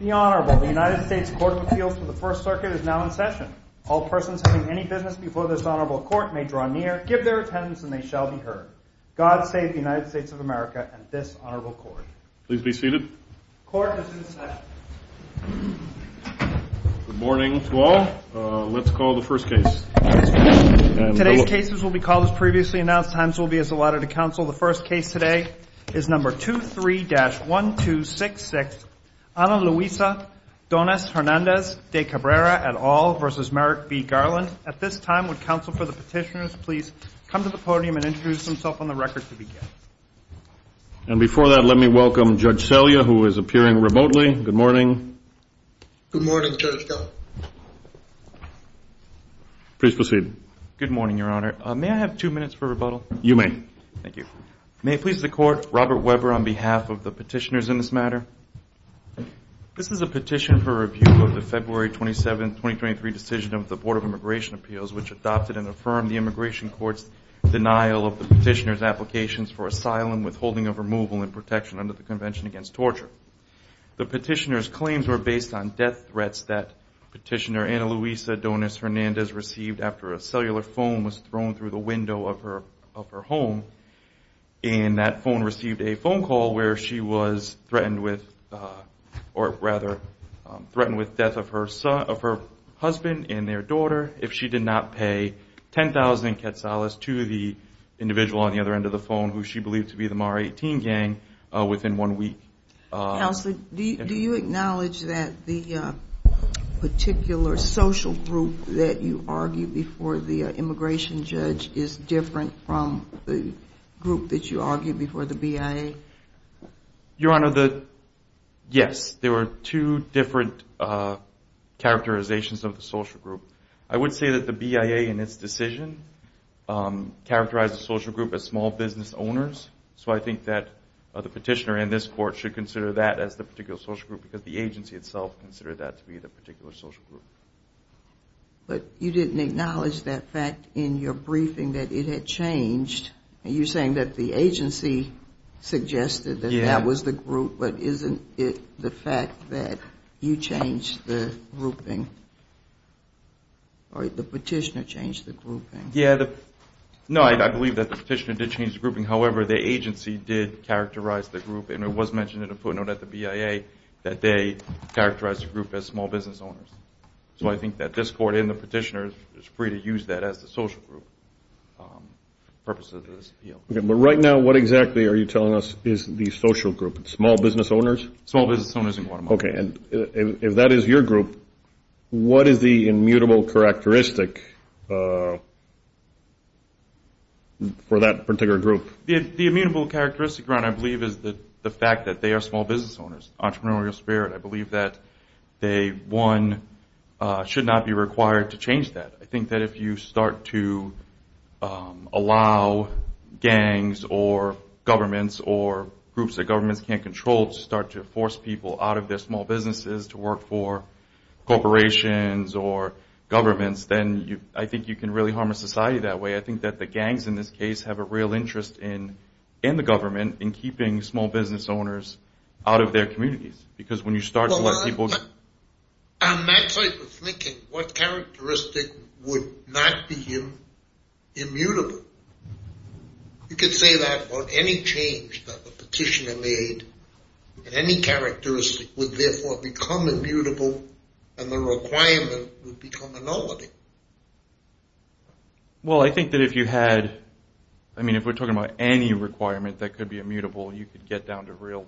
United States Court of Appeals for the First Circuit is now in session. All persons having any business before this honorable court may draw near, give their attendance, and they shall be heard. God save the United States of America and this honorable court. Please be seated. Court is in session. Good morning to all. Let's call the first case. Today's cases will be called as previously announced. Times will be as allotted to counsel. The first case today is number 23-1266, Ana Luisa Donis-Hernandez de Cabrera et al. versus Merrick B. Garland. At this time, would counsel for the petitioners please come to the podium and introduce themselves on the record to begin. And before that, let me welcome Judge Selya, who is appearing remotely. Good morning. Good morning, Judge. Please proceed. Good morning, Your Honor. May I have two minutes for rebuttal? You may. Thank you. May it please the Court, Robert Weber on behalf of the petitioners in this matter. This is a petition for review of the February 27, 2023 decision of the Board of Immigration Appeals, which adopted and affirmed the immigration court's denial of the petitioner's applications for asylum, withholding of removal, and protection under the Convention Against Torture. The petitioner's claims were based on death threats that petitioner Ana Luisa Donis-Hernandez received after a cellular phone was thrown through the window of her home. And that phone received a phone call where she was threatened with death of her husband and their daughter if she did not pay 10,000 quetzales to the individual on the other end of the phone, who she believed to be the Mar-18 gang, within one week. Counsel, do you acknowledge that the particular social group that you argued before the immigration judge is different from the group that you argued before the BIA? Your Honor, yes. There were two different characterizations of the social group. I would say that the BIA in its decision characterized the social group as small business owners, so I think that the petitioner in this court should consider that as the particular social group, because the agency itself considered that to be the particular social group. But you didn't acknowledge that fact in your briefing that it had changed. You're saying that the agency suggested that that was the group, but isn't it the fact that you changed the grouping, or the petitioner changed the grouping? No, I believe that the petitioner did change the grouping. However, the agency did characterize the group, and it was mentioned in a footnote at the BIA that they characterized the group as small business owners. So I think that this court and the petitioner is free to use that as the social group for purposes of this appeal. But right now, what exactly are you telling us is the social group? Small business owners? Small business owners in Guatemala. Okay, and if that is your group, what is the immutable characteristic for that particular group? The immutable characteristic, Your Honor, I believe is the fact that they are small business owners, entrepreneurial spirit. I believe that they, one, should not be required to change that. I think that if you start to allow gangs or governments or groups that governments can't control to start to force people out of their small businesses to work for corporations or governments, then I think you can really harm a society that way. I think that the gangs in this case have a real interest in the government in keeping small business owners out of their communities. Well, on that side of the thinking, what characteristic would not be immutable? You could say that about any change that the petitioner made. Any characteristic would therefore become immutable, and the requirement would become a nullity. Well, I think that if you had, I mean if we're talking about any requirement that could be immutable, you could get down to real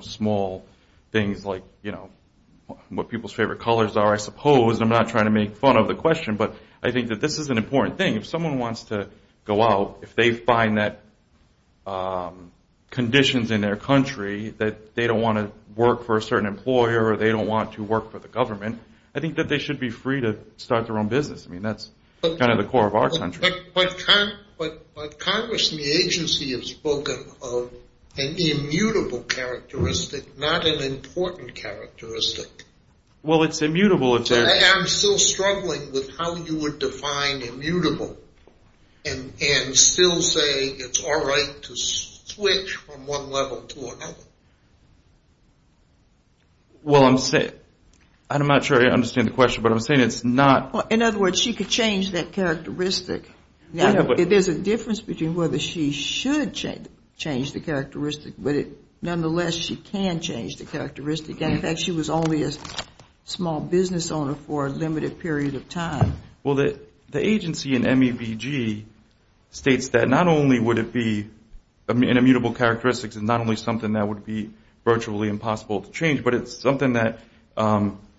small things like what people's favorite colors are, I suppose. I'm not trying to make fun of the question, but I think that this is an important thing. If someone wants to go out, if they find that conditions in their country that they don't want to work for a certain employer or they don't want to work for the government, I think that they should be free to start their own business. I mean that's kind of the core of our country. But Congress and the agency have spoken of an immutable characteristic, not an important characteristic. Well, it's immutable if there's... I'm still struggling with how you would define immutable and still say it's all right to switch from one level to another. Well, I'm not sure I understand the question, but I'm saying it's not... In other words, she could change that characteristic. There's a difference between whether she should change the characteristic, but nonetheless, she can change the characteristic. In fact, she was only a small business owner for a limited period of time. Well, the agency in MEBG states that not only would it be an immutable characteristic and not only something that would be virtually impossible to change, but it's something that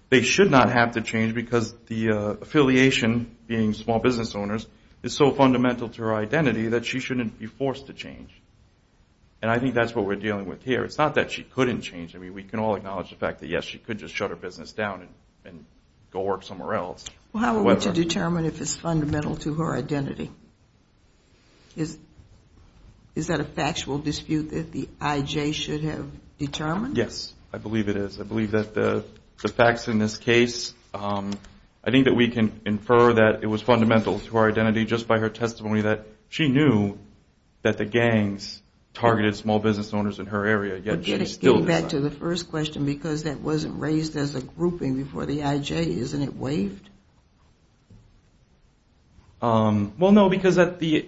they should not have to change because the affiliation, being small business owners, is so fundamental to her identity that she shouldn't be forced to change. And I think that's what we're dealing with here. It's not that she couldn't change. I mean we can all acknowledge the fact that, yes, she could just shut her business down and go work somewhere else. Well, how are we to determine if it's fundamental to her identity? Is that a factual dispute that the IJ should have determined? Yes, I believe it is. I believe that the facts in this case, I think that we can infer that it was fundamental to her identity just by her testimony that she knew that the gangs targeted small business owners in her area, yet she still decided... Well, no, because at the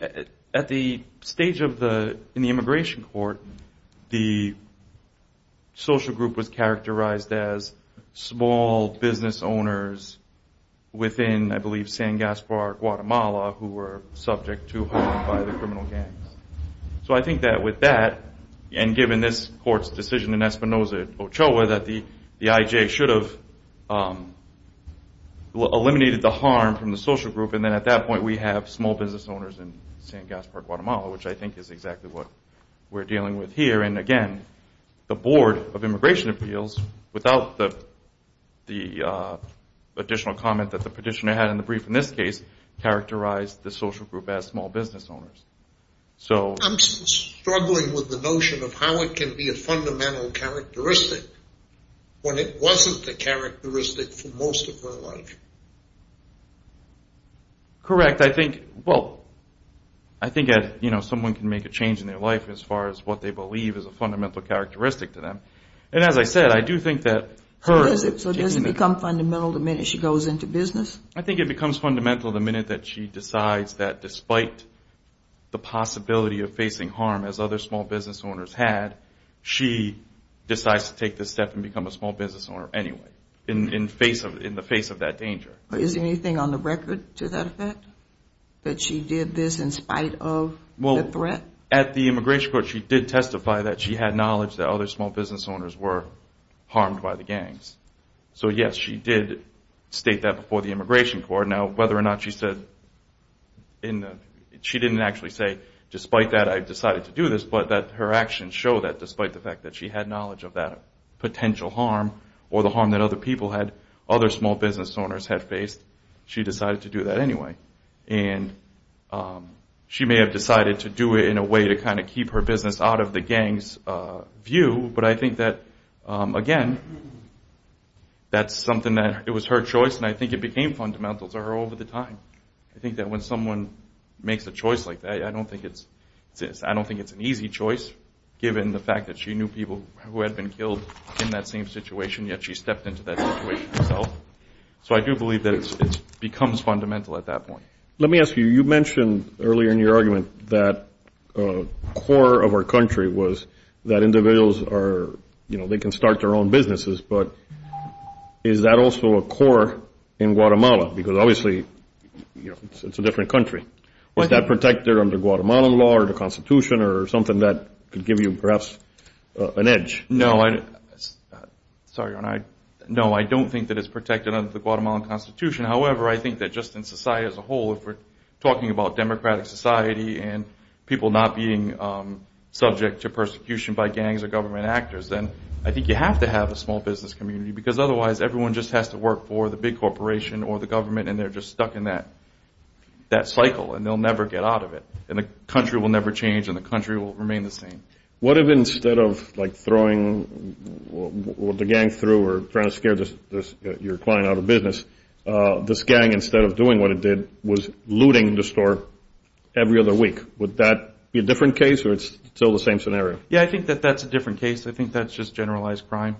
stage in the immigration court, the social group was characterized as small business owners within, I believe, San Gaspar, Guatemala, who were subject to harm by the criminal gangs. So I think that with that, and given this court's decision in Espinosa, Ochoa, that the IJ should have eliminated the harm from the social group, and then at that point we have small business owners in San Gaspar, Guatemala, which I think is exactly what we're dealing with here. And again, the board of immigration appeals, without the additional comment that the petitioner had in the brief in this case, characterized the social group as small business owners. I'm struggling with the notion of how it can be a fundamental characteristic when it wasn't a characteristic for most of her life. Correct. I think, well, I think someone can make a change in their life as far as what they believe is a fundamental characteristic to them. And as I said, I do think that... So does it become fundamental the minute she goes into business? I think it becomes fundamental the minute that she decides that despite the possibility of facing harm, as other small business owners had, she decides to take this step and become a small business owner anyway, in the face of that danger. Is anything on the record to that effect, that she did this in spite of the threat? Well, at the immigration court she did testify that she had knowledge that other small business owners were harmed by the gangs. So yes, she did state that before the immigration court. Now, whether or not she said in the... She didn't actually say, despite that I've decided to do this, but that her actions show that despite the fact that she had knowledge of that potential harm or the harm that other people had, other small business owners had faced, she decided to do that anyway. And she may have decided to do it in a way to kind of keep her business out of the gangs' view, but I think that, again, that's something that it was her choice and I think it became fundamental to her over the time. I think that when someone makes a choice like that, I don't think it's an easy choice, given the fact that she knew people who had been killed in that same situation, yet she stepped into that situation herself. So I do believe that it becomes fundamental at that point. Let me ask you, you mentioned earlier in your argument that core of our country was that individuals are, you know, they can start their own businesses, but is that also a core in Guatemala? Because obviously it's a different country. Was that protected under Guatemalan law or the Constitution or something that could give you perhaps an edge? No, I don't think that it's protected under the Guatemalan Constitution. However, I think that just in society as a whole, if we're talking about democratic society and people not being subject to persecution by gangs or government actors, then I think you have to have a small business community, because otherwise everyone just has to work for the big corporation or the government and they're just stuck in that cycle and they'll never get out of it and the country will never change and the country will remain the same. What if instead of, like, throwing the gang through or trying to scare your client out of business, this gang, instead of doing what it did, was looting the store every other week? Would that be a different case or it's still the same scenario? Yeah, I think that that's a different case. I think that's just generalized crime.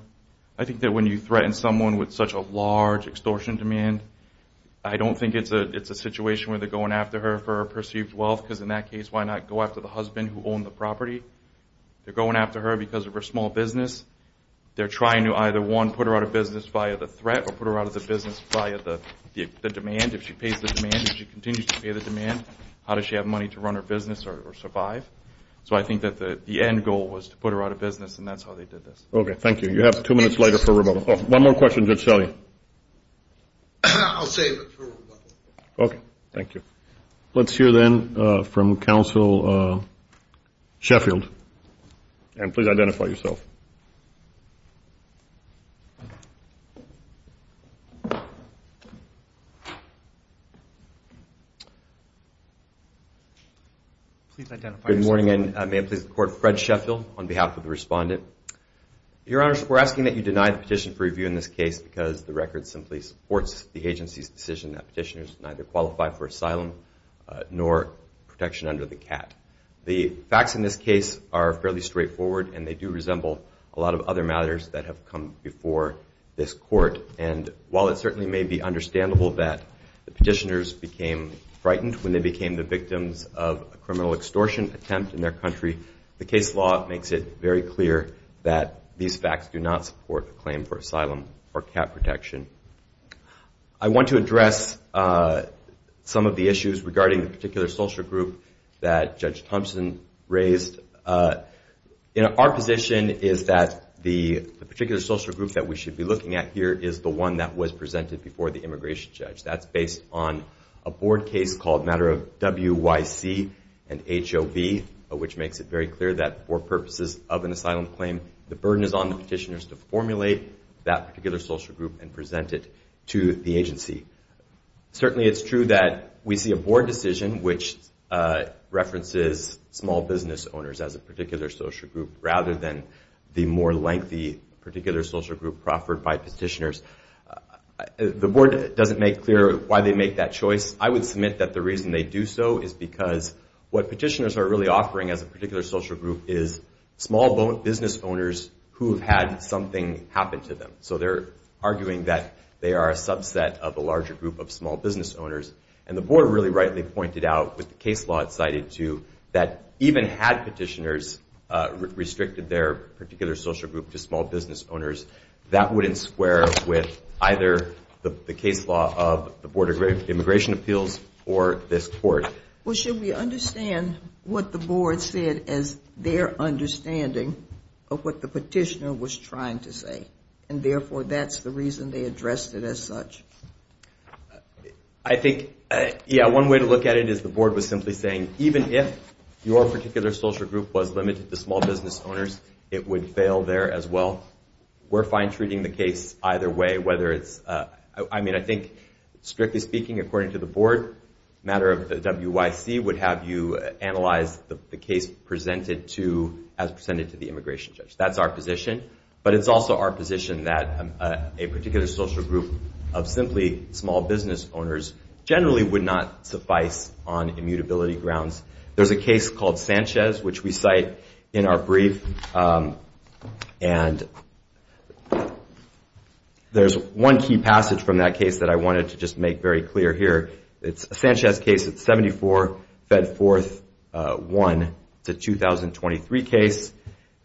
I think that when you threaten someone with such a large extortion demand, I don't think it's a situation where they're going after her for her perceived wealth, because in that case, why not go after the husband who owned the property? They're going after her because of her small business. They're trying to either, one, put her out of business via the threat or put her out of the business via the demand. If she pays the demand, if she continues to pay the demand, how does she have money to run her business or survive? So I think that the end goal was to put her out of business and that's how they did this. Okay, thank you. You have two minutes later for rebuttal. One more question. I'll save it for rebuttal. Okay, thank you. Let's hear, then, from Counsel Sheffield. And please identify yourself. Please identify yourself. Good morning, and may it please the Court. Fred Sheffield on behalf of the respondent. Your Honors, we're asking that you deny the petition for review in this case because the record simply supports the agency's decision that petitioners neither qualify for asylum nor protection under the CAT. The facts in this case are fairly straightforward, and they do resemble a lot of other matters that have come before this Court. And while it certainly may be understandable that the petitioners became frightened when they became the victims of a criminal extortion attempt in their country, the case law makes it very clear that these facts do not support a claim for asylum or CAT protection. I want to address some of the issues regarding the particular social group that Judge Thompson raised. Our position is that the particular social group that we should be looking at here is the one that was presented before the immigration judge. That's based on a board case called Matter of W.Y.C. and H.O.V., which makes it very clear that for purposes of an asylum claim, the burden is on the petitioners to formulate that particular social group and present it to the agency. Certainly it's true that we see a board decision which references small business owners as a particular social group rather than the more lengthy particular social group proffered by petitioners. The board doesn't make clear why they make that choice. I would submit that the reason they do so is because what petitioners are really offering as a particular social group is small business owners who have had something happen to them. So they're arguing that they are a subset of a larger group of small business owners. And the board really rightly pointed out with the case law it's cited to that even had petitioners restricted their particular social group to small business owners, that wouldn't square with either the case law of the Board of Immigration Appeals or this court. Well, should we understand what the board said as their understanding of what the petitioner was trying to say, and therefore that's the reason they addressed it as such? I think, yeah, one way to look at it is the board was simply saying even if your particular social group was limited to small business owners, it would fail there as well. We're fine treating the case either way, whether it's, I mean, I think strictly speaking according to the board, matter of WYC would have you analyze the case as presented to the immigration judge. That's our position. But it's also our position that a particular social group of simply small business owners generally would not suffice on immutability grounds. There's a case called Sanchez, which we cite in our brief. And there's one key passage from that case that I wanted to just make very clear here. It's a Sanchez case. It's 74, fed forth 1. It's a 2023 case.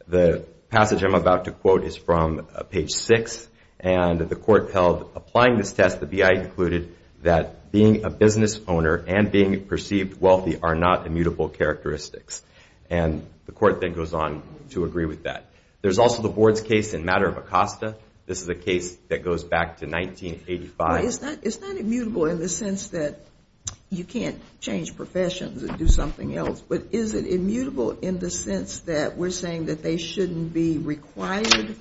The passage I'm about to quote is from page 6, and the court held applying this test, the BIA concluded that being a business owner and being perceived wealthy are not immutable characteristics. And the court then goes on to agree with that. There's also the board's case in matter of Acosta. This is a case that goes back to 1985. It's not immutable in the sense that you can't change professions and do something else, but is it immutable in the sense that we're saying that they shouldn't be required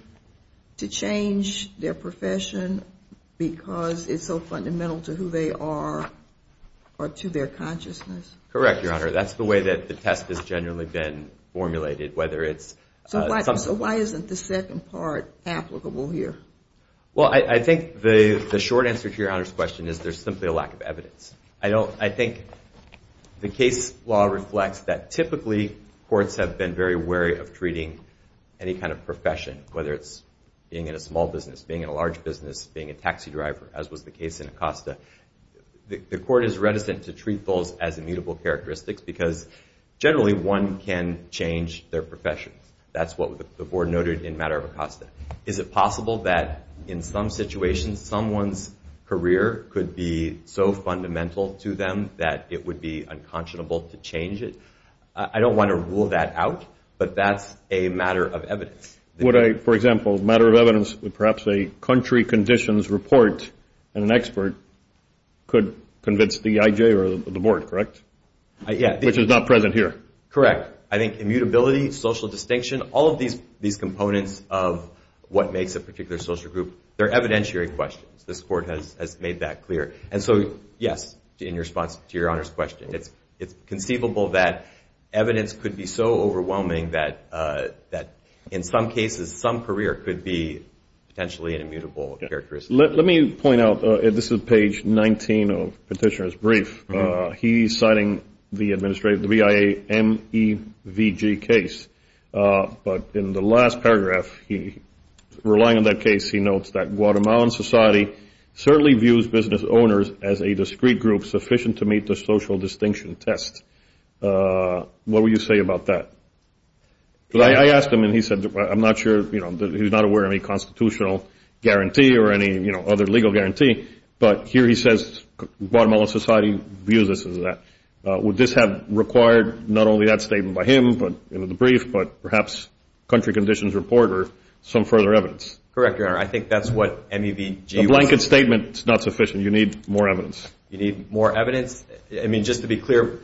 to change their profession because it's so fundamental to who they are or to their consciousness? Correct, Your Honor. That's the way that the test has generally been formulated. So why isn't the second part applicable here? Well, I think the short answer to Your Honor's question is there's simply a lack of evidence. I think the case law reflects that typically courts have been very wary of treating any kind of profession, whether it's being in a small business, being in a large business, being a taxi driver, as was the case in Acosta. The court is reticent to treat those as immutable characteristics because generally one can change their profession. That's what the board noted in matter of Acosta. Is it possible that in some situations someone's career could be so fundamental to them that it would be unconscionable to change it? I don't want to rule that out, but that's a matter of evidence. For example, a matter of evidence, perhaps a country conditions report and an expert could convince the IJ or the board, correct? Yeah. Which is not present here. Correct. I think immutability, social distinction, all of these components of what makes a particular social group, they're evidentiary questions. This court has made that clear. And so, yes, in response to Your Honor's question, it's conceivable that evidence could be so overwhelming that in some cases some career could be potentially an immutable characteristic. He's citing the administrative, the BIA MEVG case. But in the last paragraph, relying on that case, he notes that Guatemalan society certainly views business owners as a discrete group sufficient to meet the social distinction test. What would you say about that? I asked him and he said, I'm not sure, he's not aware of any constitutional guarantee or any other legal guarantee. But here he says Guatemalan society views us as that. Would this have required not only that statement by him in the brief, but perhaps country conditions report or some further evidence? Correct, Your Honor. I think that's what MEVG was. A blanket statement is not sufficient. You need more evidence. You need more evidence. I mean, just to be clear,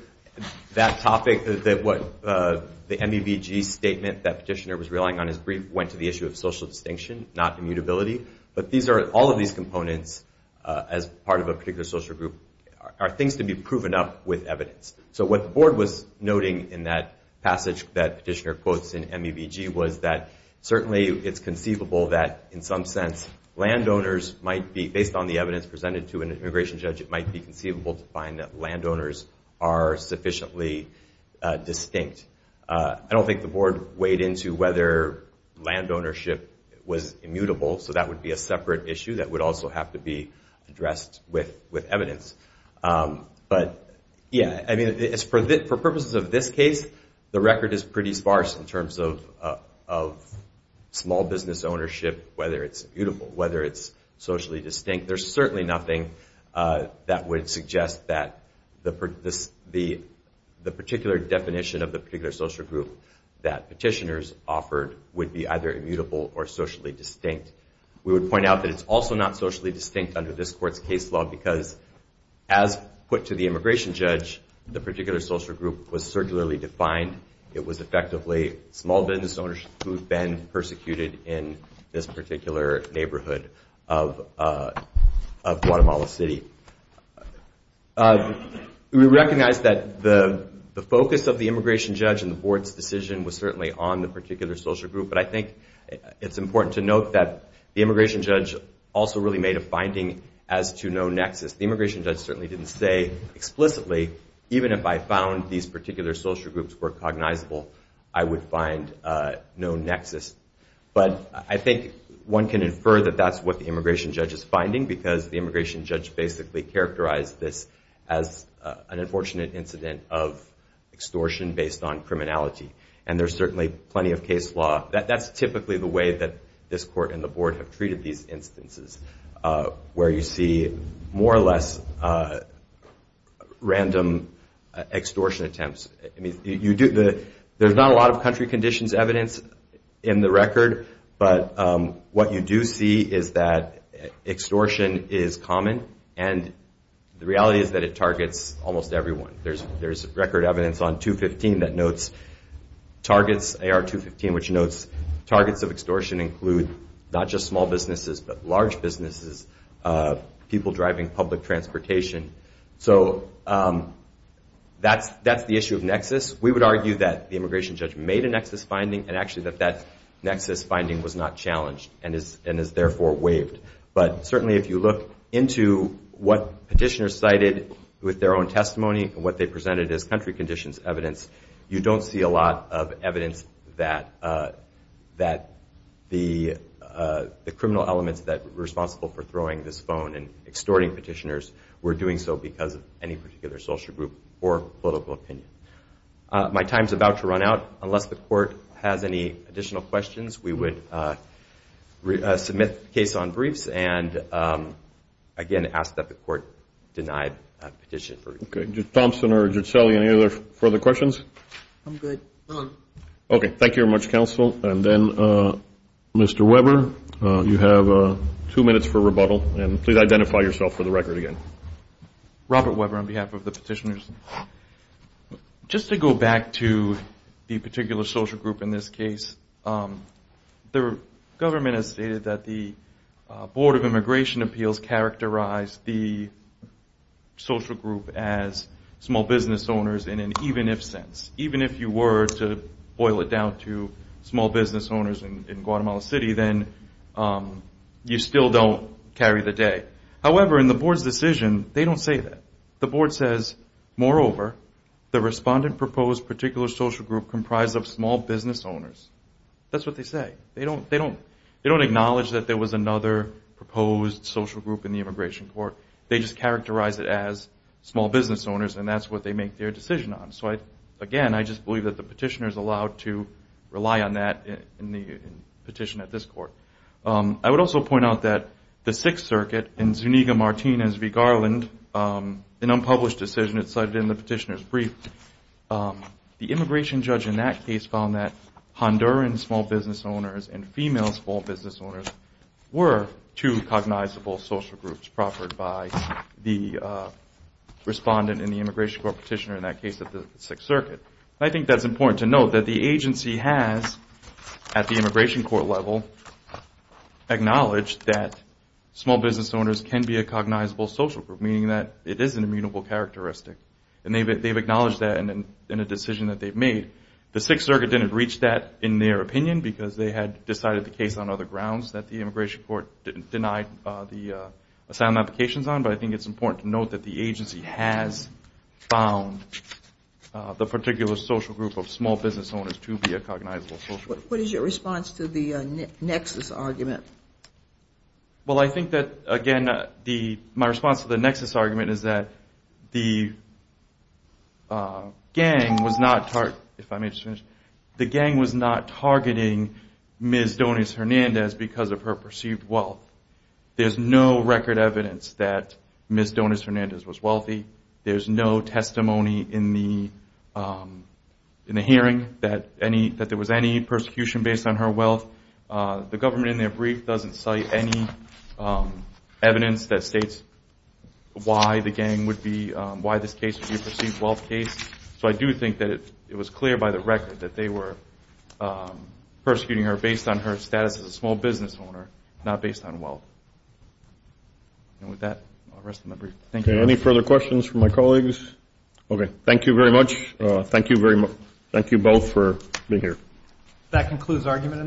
that topic that what the MEVG statement that petitioner was relying on, his brief, went to the issue of social distinction, not immutability. But all of these components as part of a particular social group are things to be proven up with evidence. So what the board was noting in that passage that petitioner quotes in MEVG was that certainly it's conceivable that in some sense landowners might be, based on the evidence presented to an immigration judge, it might be conceivable to find that landowners are sufficiently distinct. I don't think the board weighed into whether land ownership was immutable, so that would be a separate issue that would also have to be addressed with evidence. But, yeah, I mean, for purposes of this case, the record is pretty sparse in terms of small business ownership, whether it's immutable, whether it's socially distinct. There's certainly nothing that would suggest that the particular definition of the particular social group that petitioners offered would be either immutable or socially distinct. We would point out that it's also not socially distinct under this court's case law because, as put to the immigration judge, the particular social group was circularly defined. It was effectively small business owners who had been persecuted in this particular neighborhood of Guatemala City. We recognize that the focus of the immigration judge and the board's decision was certainly on the particular social group, but I think it's important to note that the immigration judge also really made a finding as to no nexus. The immigration judge certainly didn't say explicitly, even if I found these particular social groups were cognizable, I would find no nexus. But I think one can infer that that's what the immigration judge is finding because the immigration judge basically characterized this as an unfortunate incident of extortion based on criminality, and there's certainly plenty of case law. That's typically the way that this court and the board have treated these instances, where you see more or less random extortion attempts. I mean, there's not a lot of country conditions evidence in the record, but what you do see is that extortion is common, and the reality is that it targets almost everyone. There's record evidence on 215 that notes targets, AR 215, which notes targets of extortion include not just small businesses but large businesses, people driving public transportation. So that's the issue of nexus. We would argue that the immigration judge made a nexus finding and actually that that nexus finding was not challenged and is therefore waived. But certainly if you look into what petitioners cited with their own testimony and what they presented as country conditions evidence, you don't see a lot of evidence that the criminal elements that were responsible for throwing this phone and extorting petitioners were doing so because of any particular social group or political opinion. My time is about to run out. Unless the court has any additional questions, we would submit the case on briefs and again ask that the court deny a petition. Okay. Thompson or Giuselle, any other further questions? I'm good. Okay. Thank you very much, counsel. And then Mr. Weber, you have two minutes for rebuttal, and please identify yourself for the record again. Robert Weber on behalf of the petitioners. Just to go back to the particular social group in this case, the government has stated that the Board of Immigration Appeals characterized the social group as small business owners in an even-if sense. Even if you were to boil it down to small business owners in Guatemala City, then you still don't carry the day. However, in the Board's decision, they don't say that. The Board says, moreover, the respondent proposed particular social group comprised of small business owners. That's what they say. They don't acknowledge that there was another proposed social group in the immigration court. They just characterize it as small business owners, and that's what they make their decision on. So, again, I just believe that the petitioners allowed to rely on that in the petition at this court. I would also point out that the Sixth Circuit in Zuniga-Martinez v. Garland, an unpublished decision that's cited in the petitioner's brief, the immigration judge in that case found that Honduran small business owners and female small business owners were two cognizable social groups proffered by the respondent in the immigration court petitioner in that case at the Sixth Circuit. I think that's important to note that the agency has, at the immigration court level, acknowledged that small business owners can be a cognizable social group, meaning that it is an immutable characteristic. And they've acknowledged that in a decision that they've made. The Sixth Circuit didn't reach that in their opinion because they had decided the case on other grounds that the immigration court denied the asylum applications on, but I think it's important to note that the agency has found the particular social group of small business owners to be a cognizable social group. What is your response to the nexus argument? Well, I think that, again, my response to the nexus argument is that the gang was not targeting Ms. Doniz-Hernandez because of her perceived wealth. There's no record evidence that Ms. Doniz-Hernandez was wealthy. There's no testimony in the hearing that there was any persecution based on her wealth. The government in their brief doesn't cite any evidence that states why the gang would be, why this case would be a perceived wealth case. So I do think that it was clear by the record that they were persecuting her based on her status as a small business owner, not based on wealth. And with that, I'll rest on my brief. Thank you. Any further questions from my colleagues? Okay, thank you very much. Thank you both for being here. That concludes argument in the brief.